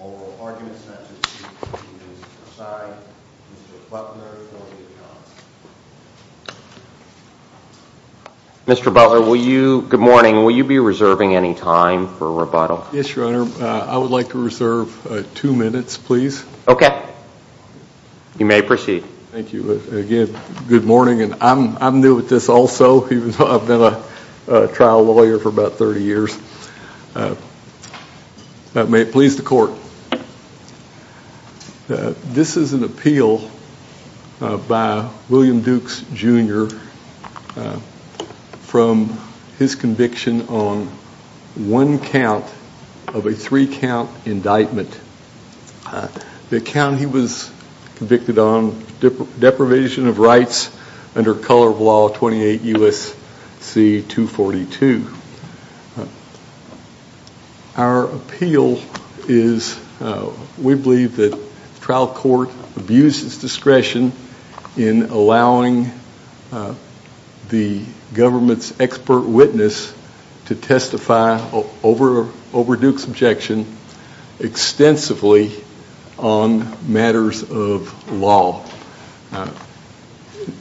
Oral arguments not to be taken as an aside. Mr. Butler, will you be reserving any time for rebuttal? Yes, Your Honor. I would like to reserve two minutes, please. Okay. You may proceed. Thank you. Good morning. I'm new at this also. I've been a trial lawyer for about 30 years. May it please the court. This is an appeal by William Dukes Jr from his conviction on one count of a three count indictment. The count he was convicted on deprivation of rights under color of law 28 U.S.C. 242. Our appeal is we believe that trial court abuses discretion in allowing the government's expert witness to testify over Dukes' objection extensively on matters of law.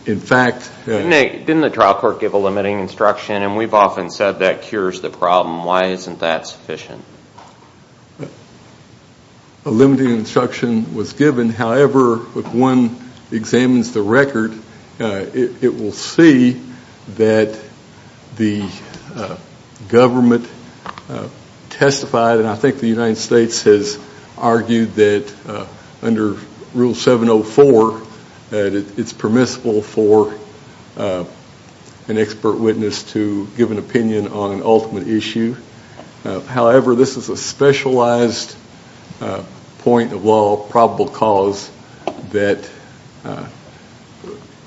In fact... Didn't the trial court give a limiting instruction and we've often said that cures the problem. Why isn't that given? However, if one examines the record, it will see that the government testified and I think the United States has argued that under rule 704, it's permissible for an expert witness to give an opinion on an ultimate issue. However, this is a specialized point of law probable cause that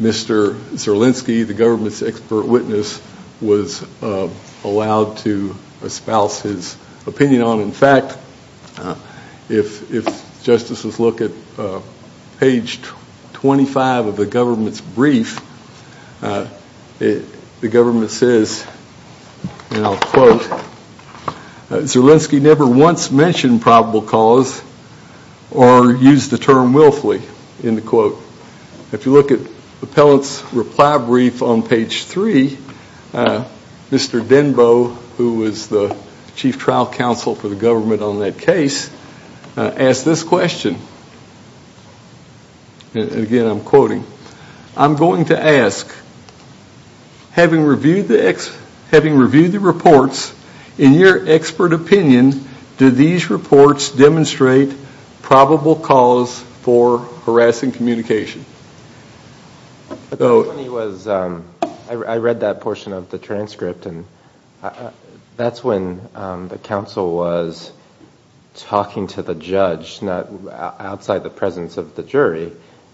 Mr. Zerlinski, the government's expert witness, was allowed to espouse his opinion on. In fact, if justices look at page 25 of the government's brief, the government says, and I'll quote, Zerlinski never once mentioned probable cause or used the term willfully. If you look at the appellant's reply brief on page 3, Mr. Denbo, who was the chief trial counsel for the government on that case, asked this question, and again I'm quoting, I'm going to ask, having reviewed the reports, in your expert opinion, do these reports demonstrate probable cause for harassing communication? I read that portion of the transcript and that's when the counsel was talking to the defendant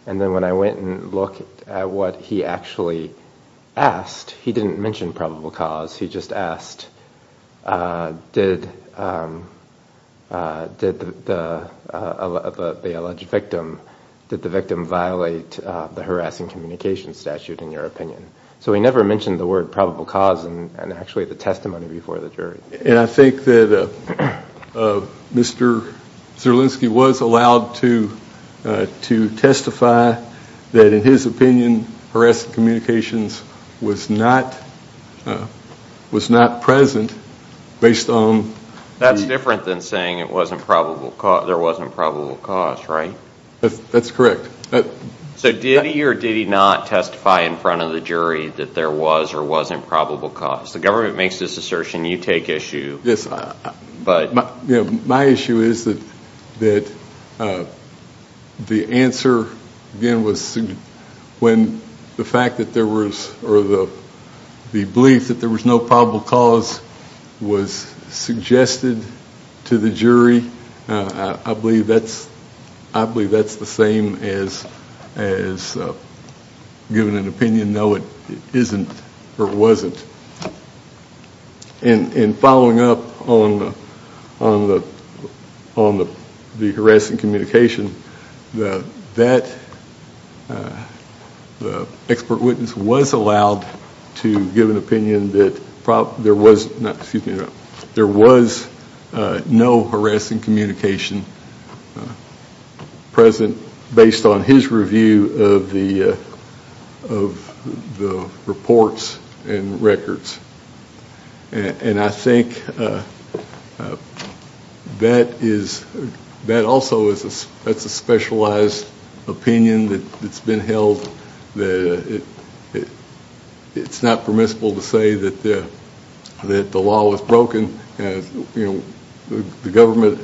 and I went and looked at what he actually asked. He didn't mention probable cause, he just asked, did the alleged victim, did the victim violate the harassing communication statute in your opinion? So he never mentioned the word probable cause and actually the testimony before the jury. And I think that Mr. Zerlinski was allowed to testify that in his opinion, harassing communications was not present based on... That's different than saying there wasn't probable cause, right? That's correct. So did he or did he not testify in front of the jury that there was or wasn't probable cause? The government makes this assertion, you take issue, but... My issue is that the answer, again, when the fact that there was or the belief that there was no probable cause was suggested to the jury, I believe that's the same as giving an opinion, no it isn't or wasn't. And following up on the harassing communication, that expert witness was allowed to give an opinion that there was no harassing communication present based on his review of the reports and records. And I think that is, that also is a specialized opinion that's been held that it's not permissible to say that the law was broken. The government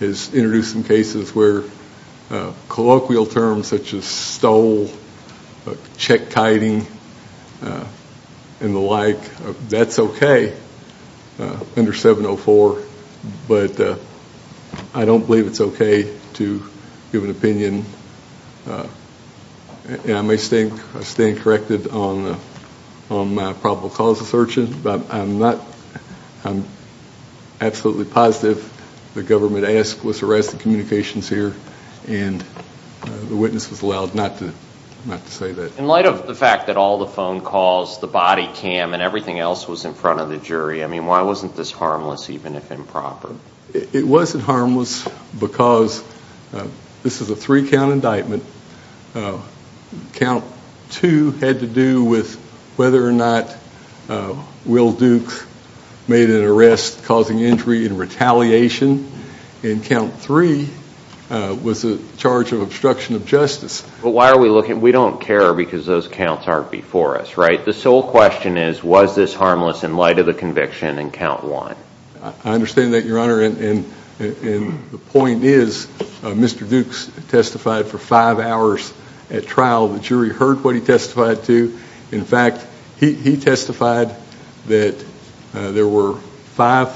has introduced some cases where colloquial terms such as stole, check kiting, and the like, that's okay under 704, but I don't believe it's okay to give an opinion. And I may stand corrected on my probable cause assertion, but I'm absolutely positive the government asked was harassing communications here and the witness was allowed not to say that. In light of the fact that all the phone calls, the body cam, and everything else was in front of the jury, I mean, why wasn't this harmless even if improper? It wasn't harmless because this is a three count indictment. Count two had to do with whether or not Will Dukes made an arrest causing injury and retaliation. And count three was the charge of obstruction of justice. But why are we looking, we don't care because those counts aren't before us, right? The sole question is was this harmless in light of the conviction in count one? I understand that, Your Honor, and the point is Mr. Dukes testified for five hours at trial. The jury heard what he testified to. In fact, he testified that there were five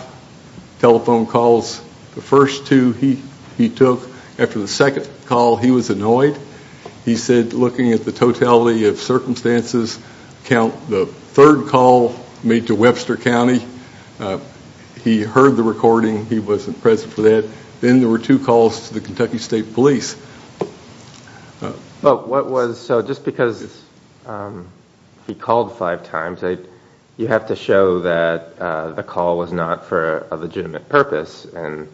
telephone calls. The first two he took after the second call, he was annoyed. He said looking at the he heard the recording, he wasn't present for that. Then there were two calls to the Kentucky State Police. What was, so just because he called five times, you have to show that the call was not for a legitimate purpose and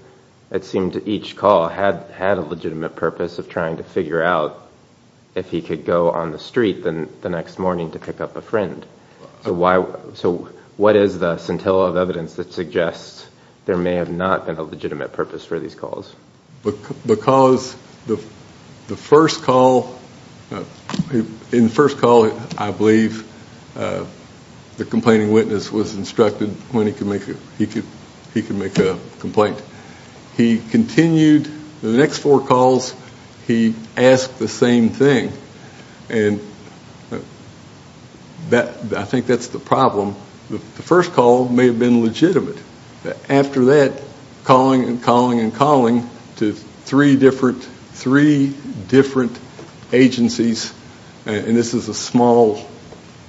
it seemed each call had a legitimate purpose of trying to figure out if he could go on the street the next morning to pick up a friend. So what is the best, there may have not been a legitimate purpose for these calls. Because the first call, in the first call I believe the complaining witness was instructed when he could make a complaint. He continued the next four calls, he asked the same thing and I think that's the problem. The first call may have been legitimate. After that calling and calling and calling to three different agencies and this is a small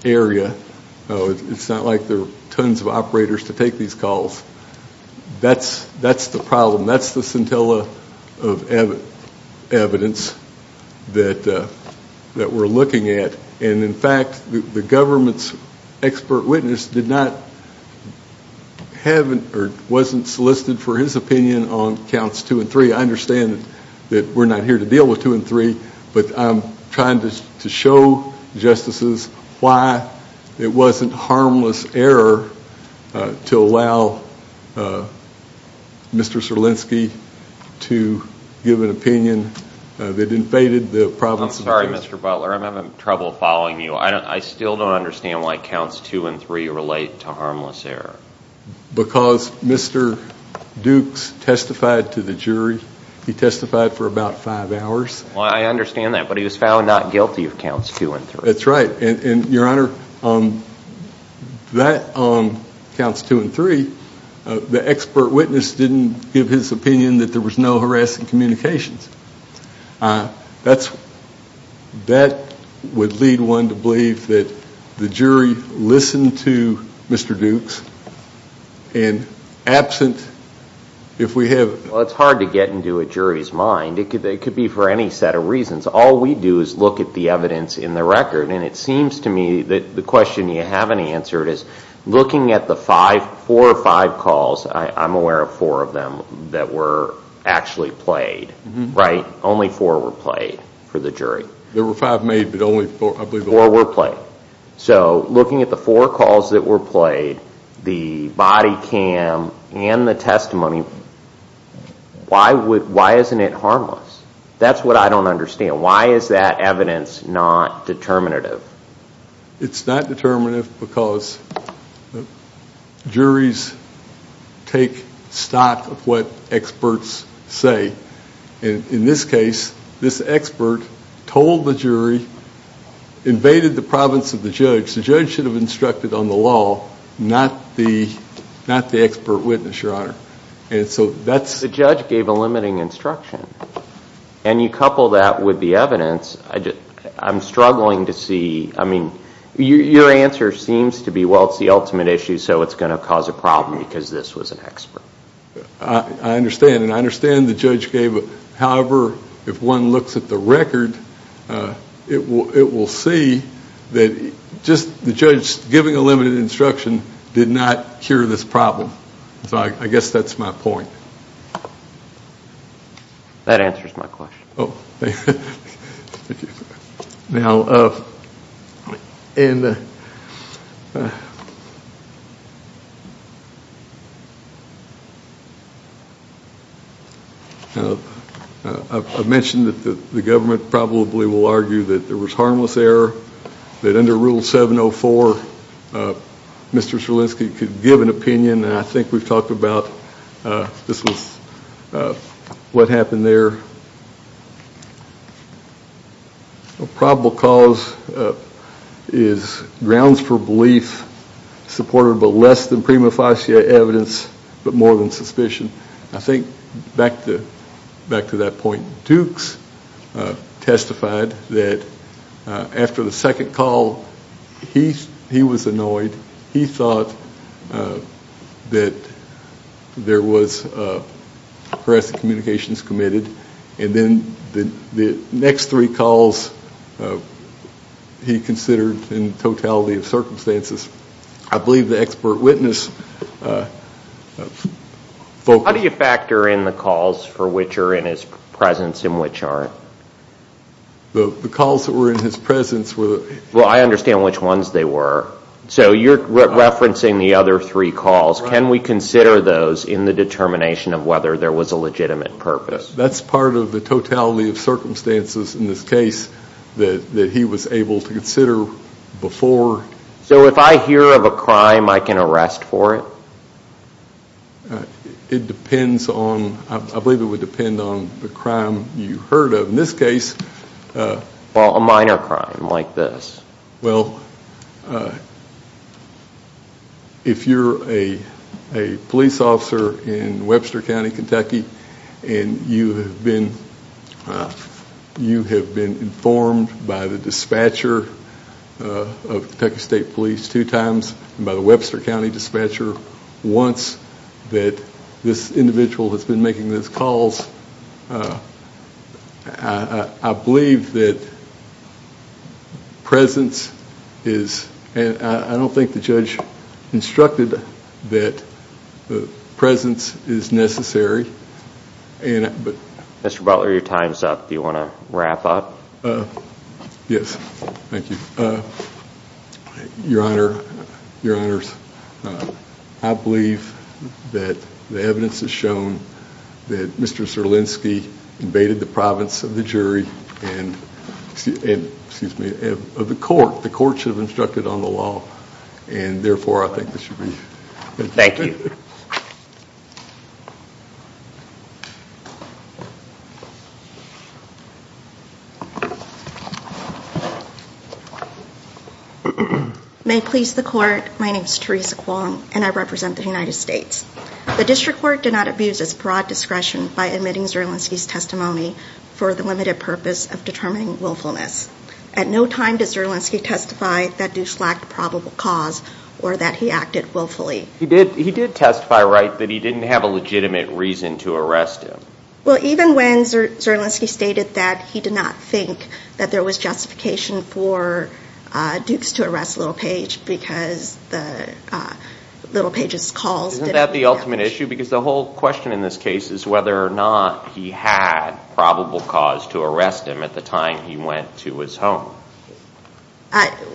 area, it's not like there are tons of operators to take these calls. That's the problem. That's the scintilla of evidence that we're looking at and in fact the government's expert witness did not have or wasn't solicited for his opinion on counts two and three. I understand that we're not here to deal with two and three but I'm trying to show justices why it wasn't harmless error to allow Mr. Serlinski to give an opinion that invaded the province. I'm sorry Mr. Butler, I'm having trouble following you. I still don't understand why counts two and three relate to harmless error. Because Mr. Dukes testified to the jury. He testified for about five hours. I understand that but he was found not guilty of counts two and three. That's right and your honor, that counts two and three, the expert witness didn't give his opinion that there was no harassing communications. That would lead one to believe that the jury listened to Mr. Dukes and absent if we have... It's hard to get into a jury's mind. It could be for any set of reasons. All we do is look at the evidence in the record and it seems to me that the question you haven't answered is looking at the four or five calls, I'm aware of four of them that were actually played. Only four were played for the jury. There were five made but only four were played. Looking at the four calls that were played, the body cam and the testimony, why isn't it harmless? That's what I don't understand. Why is that evidence not determinative? It's not determinative because juries take stock of what experts say. In this case, this expert told the jury, invaded the province of the judge. The judge should have instructed on the law, not the expert witness, your honor. The judge gave a limiting instruction and you couple that with the evidence. I'm struggling to see... Your answer seems to be, well, it's the ultimate issue so it's going to cause a problem because this was an expert. I understand. I understand the judge gave a... However, if one looks at the record, it will see that just the judge giving a limited instruction did not cure this problem. I guess that's my point. That answers my question. I mentioned that the government probably will argue that there was harmless error, that this was what happened there. A probable cause is grounds for belief, supportive of less than prima facie evidence, but more than suspicion. I think, back to that point, Dukes testified that after the second call, he was annoyed. He thought that there was something wrong and there was harassed communications committed. Then the next three calls, he considered in totality of circumstances. I believe the expert witness... How do you factor in the calls for which are in his presence and which aren't? The calls that were in his presence were... I understand which ones they were. You're referencing the other three calls. Can we consider those in the determination of whether there was a legitimate purpose? That's part of the totality of circumstances in this case that he was able to consider before. If I hear of a crime, I can arrest for it? It depends on... I believe it would depend on the crime you heard of. In this case... A minor crime like this. Well, if you're a police officer in Webster County, Kentucky, and you have been informed by the dispatcher of Kentucky State Police two times, by the Webster County dispatcher once that this individual has been making these calls, I believe that presence of a witness is... I don't think the judge instructed that presence is necessary. Mr. Butler, your time's up. Do you want to wrap up? Your Honor, I believe that the evidence has shown that Mr. Zerlinski invaded the province of the jury and... Excuse me, of the court. The court should have instructed on the law, and therefore, I think this should be... Thank you. May it please the court, my name's Teresa Kwong, and I represent the United States. The district court did not abuse its broad discretion by admitting Zerlinski's testimony for the limited purpose of determining willfulness. At no time does Zerlinski testify that Dukes lacked probable cause or that he acted willfully. He did testify, right, that he didn't have a legitimate reason to arrest him. Well, even when Zerlinski stated that he did not think that there was justification for Dukes to arrest Little Page because Little Page's calls... Isn't that the ultimate issue? Because the whole question in this case is whether or not he had probable cause to arrest him at the time he went to his home.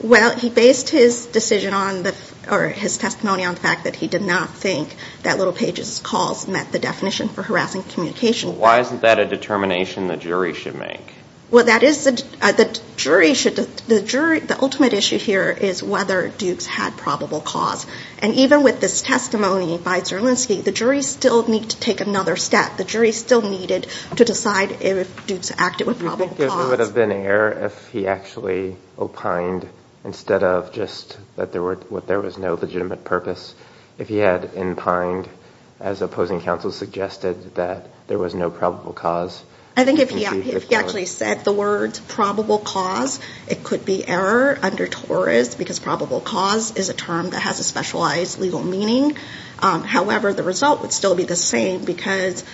Well, he based his decision on, or his testimony on the fact that he did not think that Little Page's calls met the definition for harassing communication. Why isn't that a determination the jury should make? Well, that is... The jury should... The ultimate issue here is whether Dukes had probable cause. And even with this testimony by Zerlinski, the jury still needs to take another step. The jury still needed to decide if Dukes acted with probable cause. It would have been an error if he actually opined instead of just that there was no legitimate purpose. If he had opined, as opposing counsel suggested, that there was no probable cause. I think if he actually said the words probable cause, it could be error under Torres because probable cause is a term that has a specialized legal meaning. However, the result would still be the same because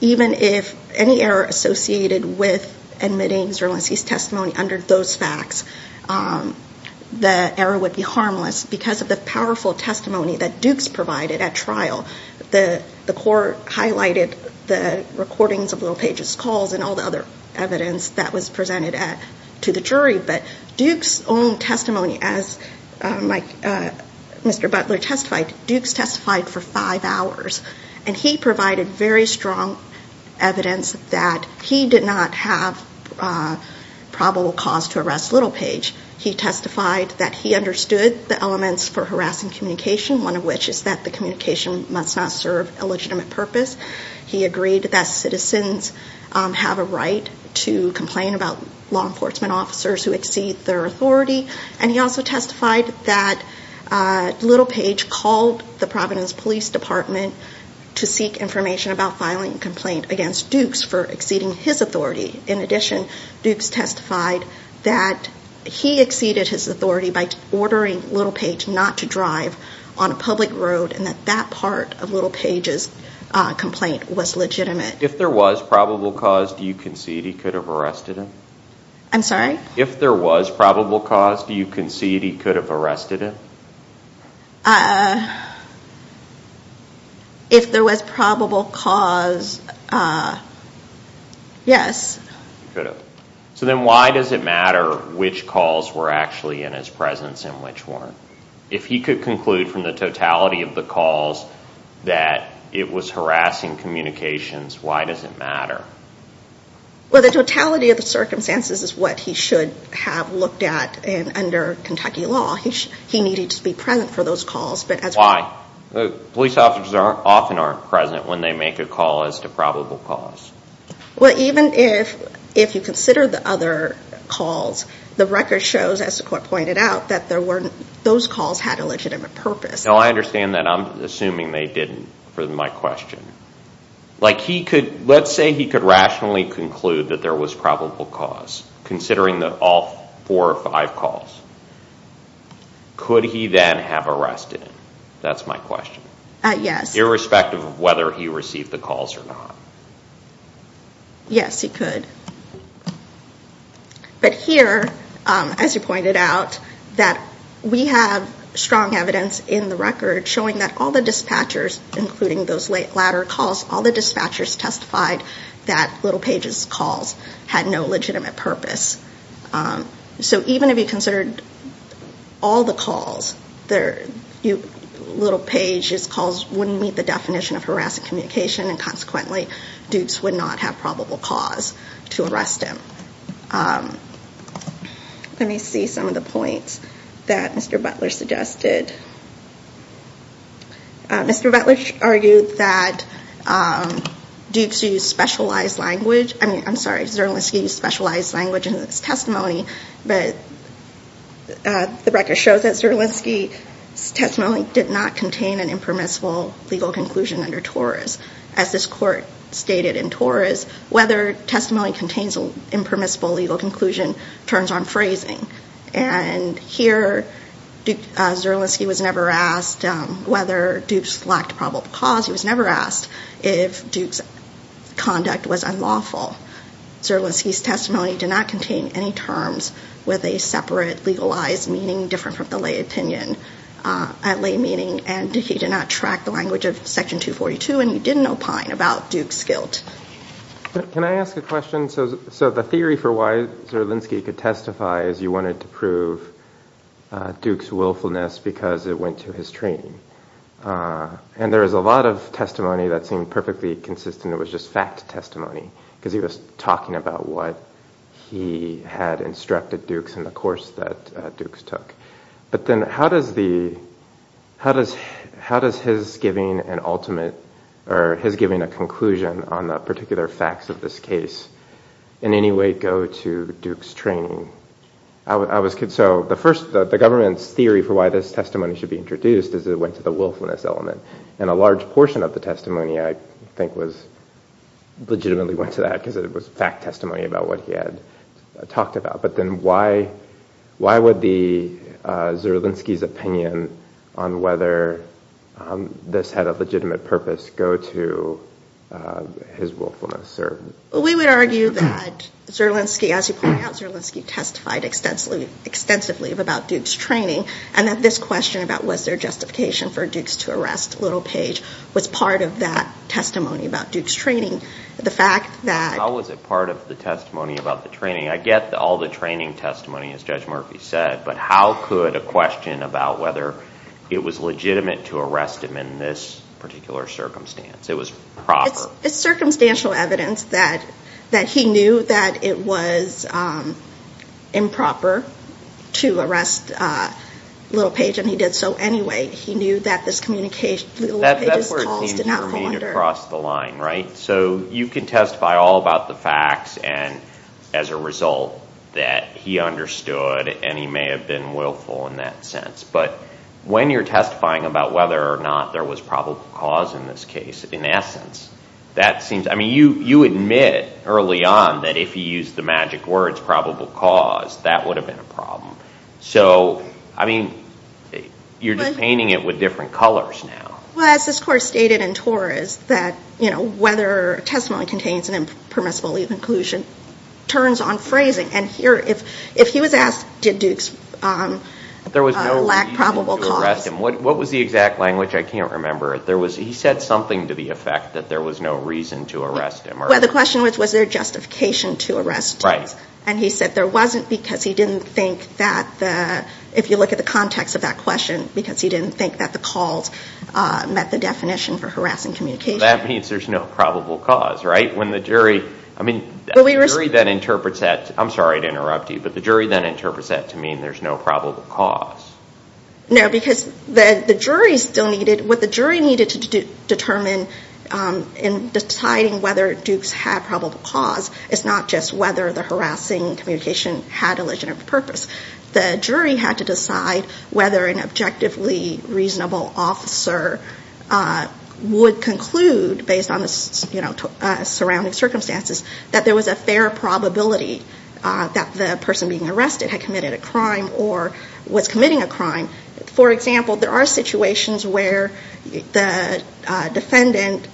even if any error associated with admitting Zerlinski's testimony under those facts, the error would be harmless because of the powerful testimony that Dukes provided at trial. The court highlighted the recordings of Little Page's calls and all the other evidence that was presented to the jury, but Dukes' own testimony, as Mr. Butler testified, Dukes testified for five hours. And he provided very strong evidence that he did not have probable cause to arrest Little Page. He testified that he understood the elements for harassing communication, one of which is that the communication must not serve a legitimate purpose. He agreed that citizens have a right to complain about law enforcement officers who exceed their authority. And he also testified that Little Page called the Providence Police Department to seek information about filing a complaint against Dukes for exceeding his authority. In addition, Dukes testified that he exceeded his authority by ordering Little Page not to drive on a public road and that that part of Little Page's complaint was legitimate. If there was probable cause, do you concede he could have arrested him? I'm sorry? If there was probable cause, do you concede he could have arrested him? If there was probable cause, yes. So then why does it matter which calls were actually in his presence and which weren't? If he could conclude from the totality of the calls that it was harassing communications, why does it matter? Well, the totality of the circumstances is what he should have looked at under Kentucky law. He needed to be present for those calls. Why? Police officers often aren't present when they make a call as to probable cause. Well, even if you consider the other calls, the record shows, as the court pointed out, that those calls had a legitimate purpose. No, I understand that. I'm assuming they didn't for my question. Let's say he could rationally conclude that there was probable cause, considering all four or five calls. Could he then have arrested him? That's my question. Yes. Irrespective of whether he received the calls or not. Yes, he could. But here, as you pointed out, we have strong evidence in the record showing that all the dispatchers, including those latter calls, all the dispatchers testified that Little Page's calls had no legitimate purpose. So even if you considered all the calls, Little Page's calls wouldn't meet the definition of harassing communication, and consequently, Dukes would not have probable cause to arrest him. Let me see some of the points that Mr. Butler suggested. Mr. Butler argued that Dukes used specialized language, I mean, I'm sorry, Zerlinski used specialized language in his testimony, but the record shows that Zerlinski's testimony did not contain an impermissible legal conclusion under TORAS. As this court stated in TORAS, whether testimony contains an impermissible legal conclusion turns on phrasing. And here, Zerlinski was never asked whether Dukes lacked probable cause, he was never asked if Dukes' conduct was unlawful. Zerlinski's testimony did not contain any terms with a separate legalized meaning different from the lay opinion at lay meeting, and he did not track the language of section 242, and he did not opine about Dukes' guilt. Can I ask a question? So the theory for why Zerlinski could testify is you wanted to prove Dukes' willfulness because it went to his training. And there is a lot of testimony that seemed perfectly consistent, it was just fact testimony, because he was talking about what he had instructed Dukes in the course that Dukes took. But then how does his giving an ultimate, or his giving a conclusion on the particular facts of this case in any way go to Dukes' training? So the first, the government's theory for why this testimony should be introduced is it went to the willfulness element, and a large portion of the testimony I think was it went to that because it was fact testimony about what he had talked about. But then why would the, Zerlinski's opinion on whether this had a legitimate purpose go to his willfulness? We would argue that Zerlinski, as you point out, Zerlinski testified extensively about Dukes' training, and that this question about was there justification for Dukes to arrest Little Page was part of that testimony about Dukes' training. How was it part of the testimony about the training? I get all the training testimony, as Judge Murphy said, but how could a question about whether it was legitimate to arrest him in this particular circumstance, it was proper? It's circumstantial evidence that he knew that it was improper to arrest Little Page and he did so anyway. He knew that this communication, Little Page's calls did not go under. So you can testify all about the facts and as a result that he understood and he may have been willful in that sense, but when you're testifying about whether or not there was probable cause in this case, in essence, that seems, I mean, you admit early on that if you used the magic words probable cause, that would have been a problem. So I mean, you're just painting it with different colors now. Well, as this Court stated in Torres that, you know, whether testimony contains an impermissible leave inclusion turns on phrasing and here, if he was asked did Dukes lack probable cause. There was no reason to arrest him. What was the exact language? I can't remember. There was, he said something to the effect that there was no reason to arrest him. Well, the question was, was there justification to arrest Dukes. Right. And he said there wasn't because he didn't think that the, if you look at the context of that question, because he didn't think that the calls met the definition for harassing communication. That means there's no probable cause, right? When the jury, I mean, the jury then interprets that, I'm sorry to interrupt you, but the jury then interprets that to mean there's no probable cause. No, because the jury still needed, what the jury needed to determine in deciding whether Dukes had probable cause is not just whether the harassing communication had a legitimate purpose. The jury had to decide whether an objectively reasonable officer would conclude, based on the surrounding circumstances, that there was a fair probability that the person being arrested had committed a crime or was committing a crime. For example, there are situations where the defendant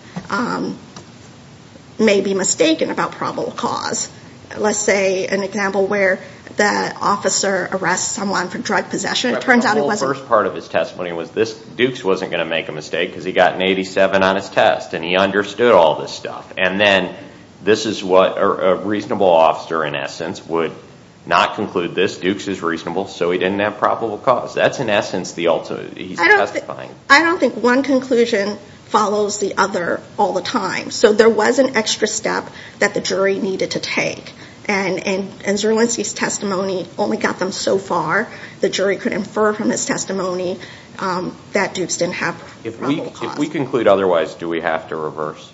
may be mistaken about probable cause. Let's say an example where the officer arrests someone for drug possession. The whole first part of his testimony was this, Dukes wasn't going to make a mistake because he got an 87 on his test and he understood all this stuff. And then this is what a reasonable officer, in essence, would not conclude this. Dukes is reasonable, so he didn't have probable cause. That's in essence the ultimate, he's testifying. I don't think one conclusion follows the other all the time. So there was an extra step that the jury needed to take, and Zerlinski's testimony only got them so far. The jury could infer from his testimony that Dukes didn't have probable cause. If we conclude otherwise, do we have to reverse?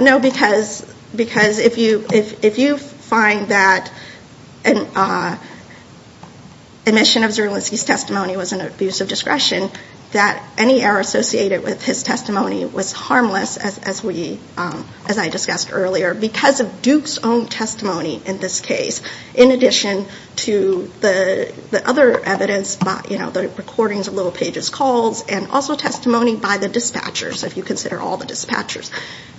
No, because if you find that an omission of Zerlinski's testimony was an abuse of discretion, that any error associated with his testimony was harmless, as I discussed earlier, because of Dukes' own testimony in this case. In addition to the other evidence, you know, the recordings of Little Page's calls, and also testimony by the dispatchers, if you consider all the dispatchers.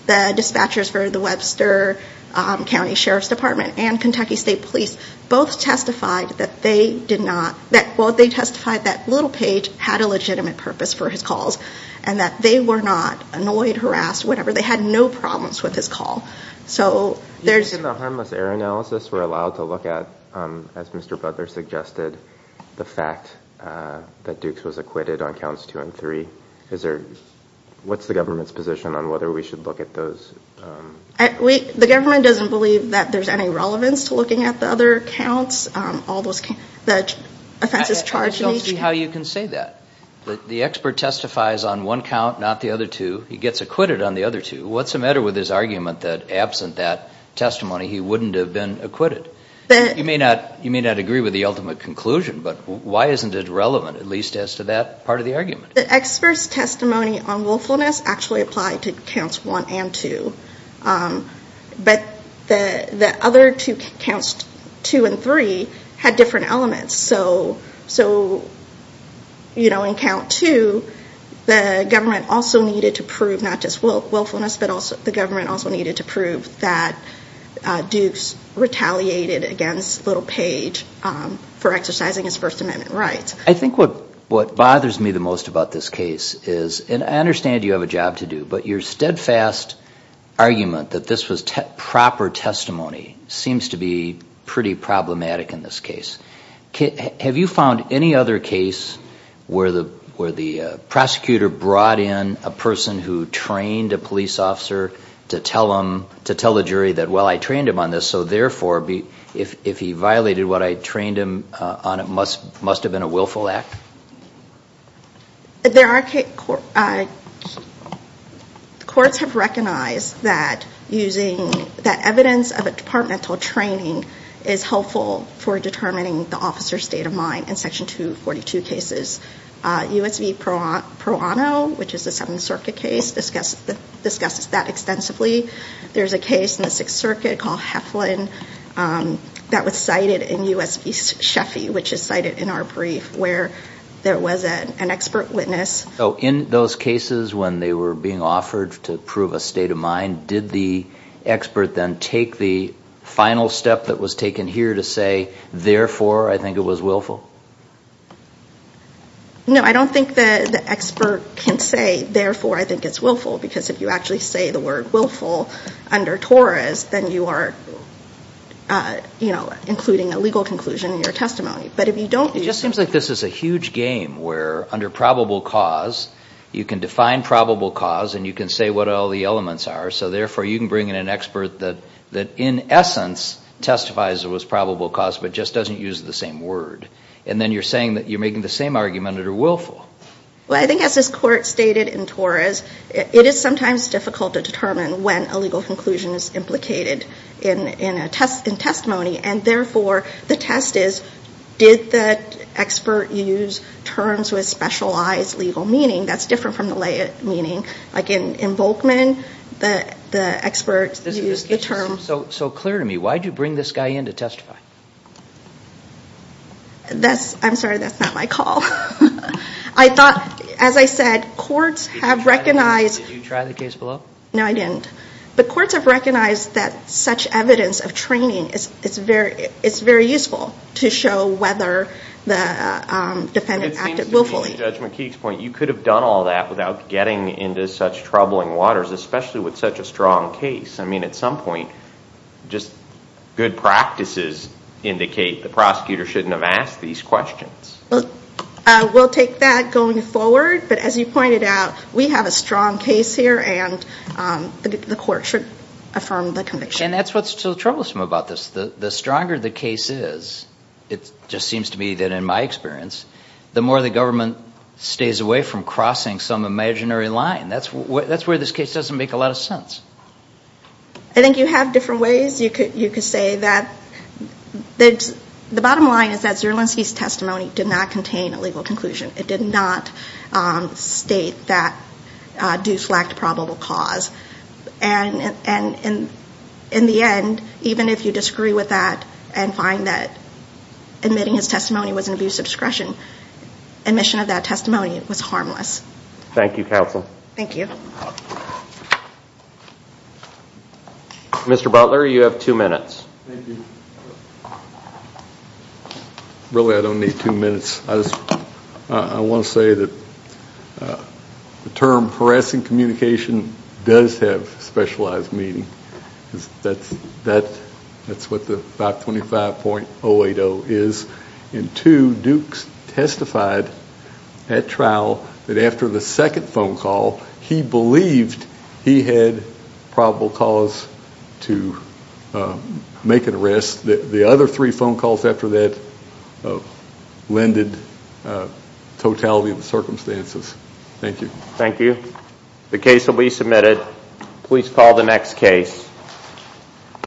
The dispatchers for the Webster County Sheriff's Department and Kentucky State Police both testified that they did not, well, they testified that Little Page had a legitimate purpose for his calls, and that they were not annoyed, harassed, whatever. They had no problems with his call. So there's... In the harmless error analysis, we're allowed to look at, as Mr. Butler suggested, the fact that Dukes was acquitted on counts two and three. Is there, what's the government's position on whether we should look at those? The government doesn't believe that there's any relevance to looking at the other counts, all those, the offenses charged in each count. I'm just asking how you can say that. The expert testifies on one count, not the other two. He gets acquitted on the other two. What's the matter with his argument that absent that testimony, he wouldn't have been acquitted? You may not agree with the ultimate conclusion, but why isn't it relevant, at least as to that part of the argument? The expert's testimony on willfulness actually applied to counts one and two. But the other two counts, two and three, had different elements. So, you know, in count two, the government also needed to prove not just willfulness, but the government also needed to prove that Dukes retaliated against Little Page for exercising his First Amendment rights. I think what bothers me the most about this case is, and I understand you have a job to do, but your steadfast argument that this was proper testimony seems to be pretty problematic in this case. Have you found any other case where the prosecutor brought in a person who trained a police officer to tell the jury that, well, I trained him on this, so therefore, if he violated what I trained him on, it must have been a willful act? There are, the courts have recognized that using, that evidence of a departmental training is helpful for determining the officer's state of mind in Section 242 cases. U.S. v. Pro Anno, which is a Seventh Circuit case, discusses that extensively. There's a case in the Sixth Circuit called Heflin that was cited in U.S. v. Sheffy, which is cited in our brief, where there was an expert witness. So in those cases when they were being offered to prove a state of mind, did the expert then take the final step that was taken here to say, therefore, I think it was willful? No, I don't think the expert can say, therefore, I think it's willful, because if you actually say the word willful under TORAS, then you are, you know, including a legal conclusion in your testimony. But if you don't, you just. It seems like this is a huge game, where under probable cause, you can define probable cause and you can say what all the elements are, so therefore, you can bring in an expert that in essence testifies it was probable cause, but just doesn't use the same word. And then you're saying that you're making the same argument under willful. Well, I think as this court stated in TORAS, it is sometimes difficult to determine when a legal conclusion is implicated in testimony, and therefore, the test is did the expert use terms with specialized legal meaning? That's different from the lay meaning. Like in Volkman, the expert used the term. So clear to me, why did you bring this guy in to testify? That's, I'm sorry, that's not my call. I thought, as I said, courts have recognized. Did you try the case below? No, I didn't. But courts have recognized that such evidence of training, it's very useful to show whether the defendant acted willfully. But it seems to me, in Judge McKeek's point, you could have done all that without getting into such troubling waters, especially with such a strong case. I mean, at some point, just good practices indicate the prosecutor shouldn't have asked these questions. Well, we'll take that going forward. But as you pointed out, we have a strong case here, and the court should affirm the conviction. And that's what's so troublesome about this. The stronger the case is, it just seems to me that in my experience, the more the government stays away from crossing some imaginary line. That's where this case doesn't make a lot of sense. I think you have different ways. You could say that the bottom line is that Zerlinski's testimony did not contain a legal conclusion. It did not state that deflect probable cause. And in the end, even if you disagree with that and find that admitting his testimony was an abuse of discretion, admission of that testimony was harmless. Thank you, counsel. Thank you. Mr. Butler, you have two minutes. Thank you. Really, I don't need two minutes. I want to say that the term harassing communication does have specialized meaning. That's what the 525.080 is. And two, Dukes testified at trial that after the second phone call, he believed he had probable cause to make an arrest. The other three phone calls after that lended totality of the circumstances. Thank you. Thank you. The case will be submitted. Please call the next case.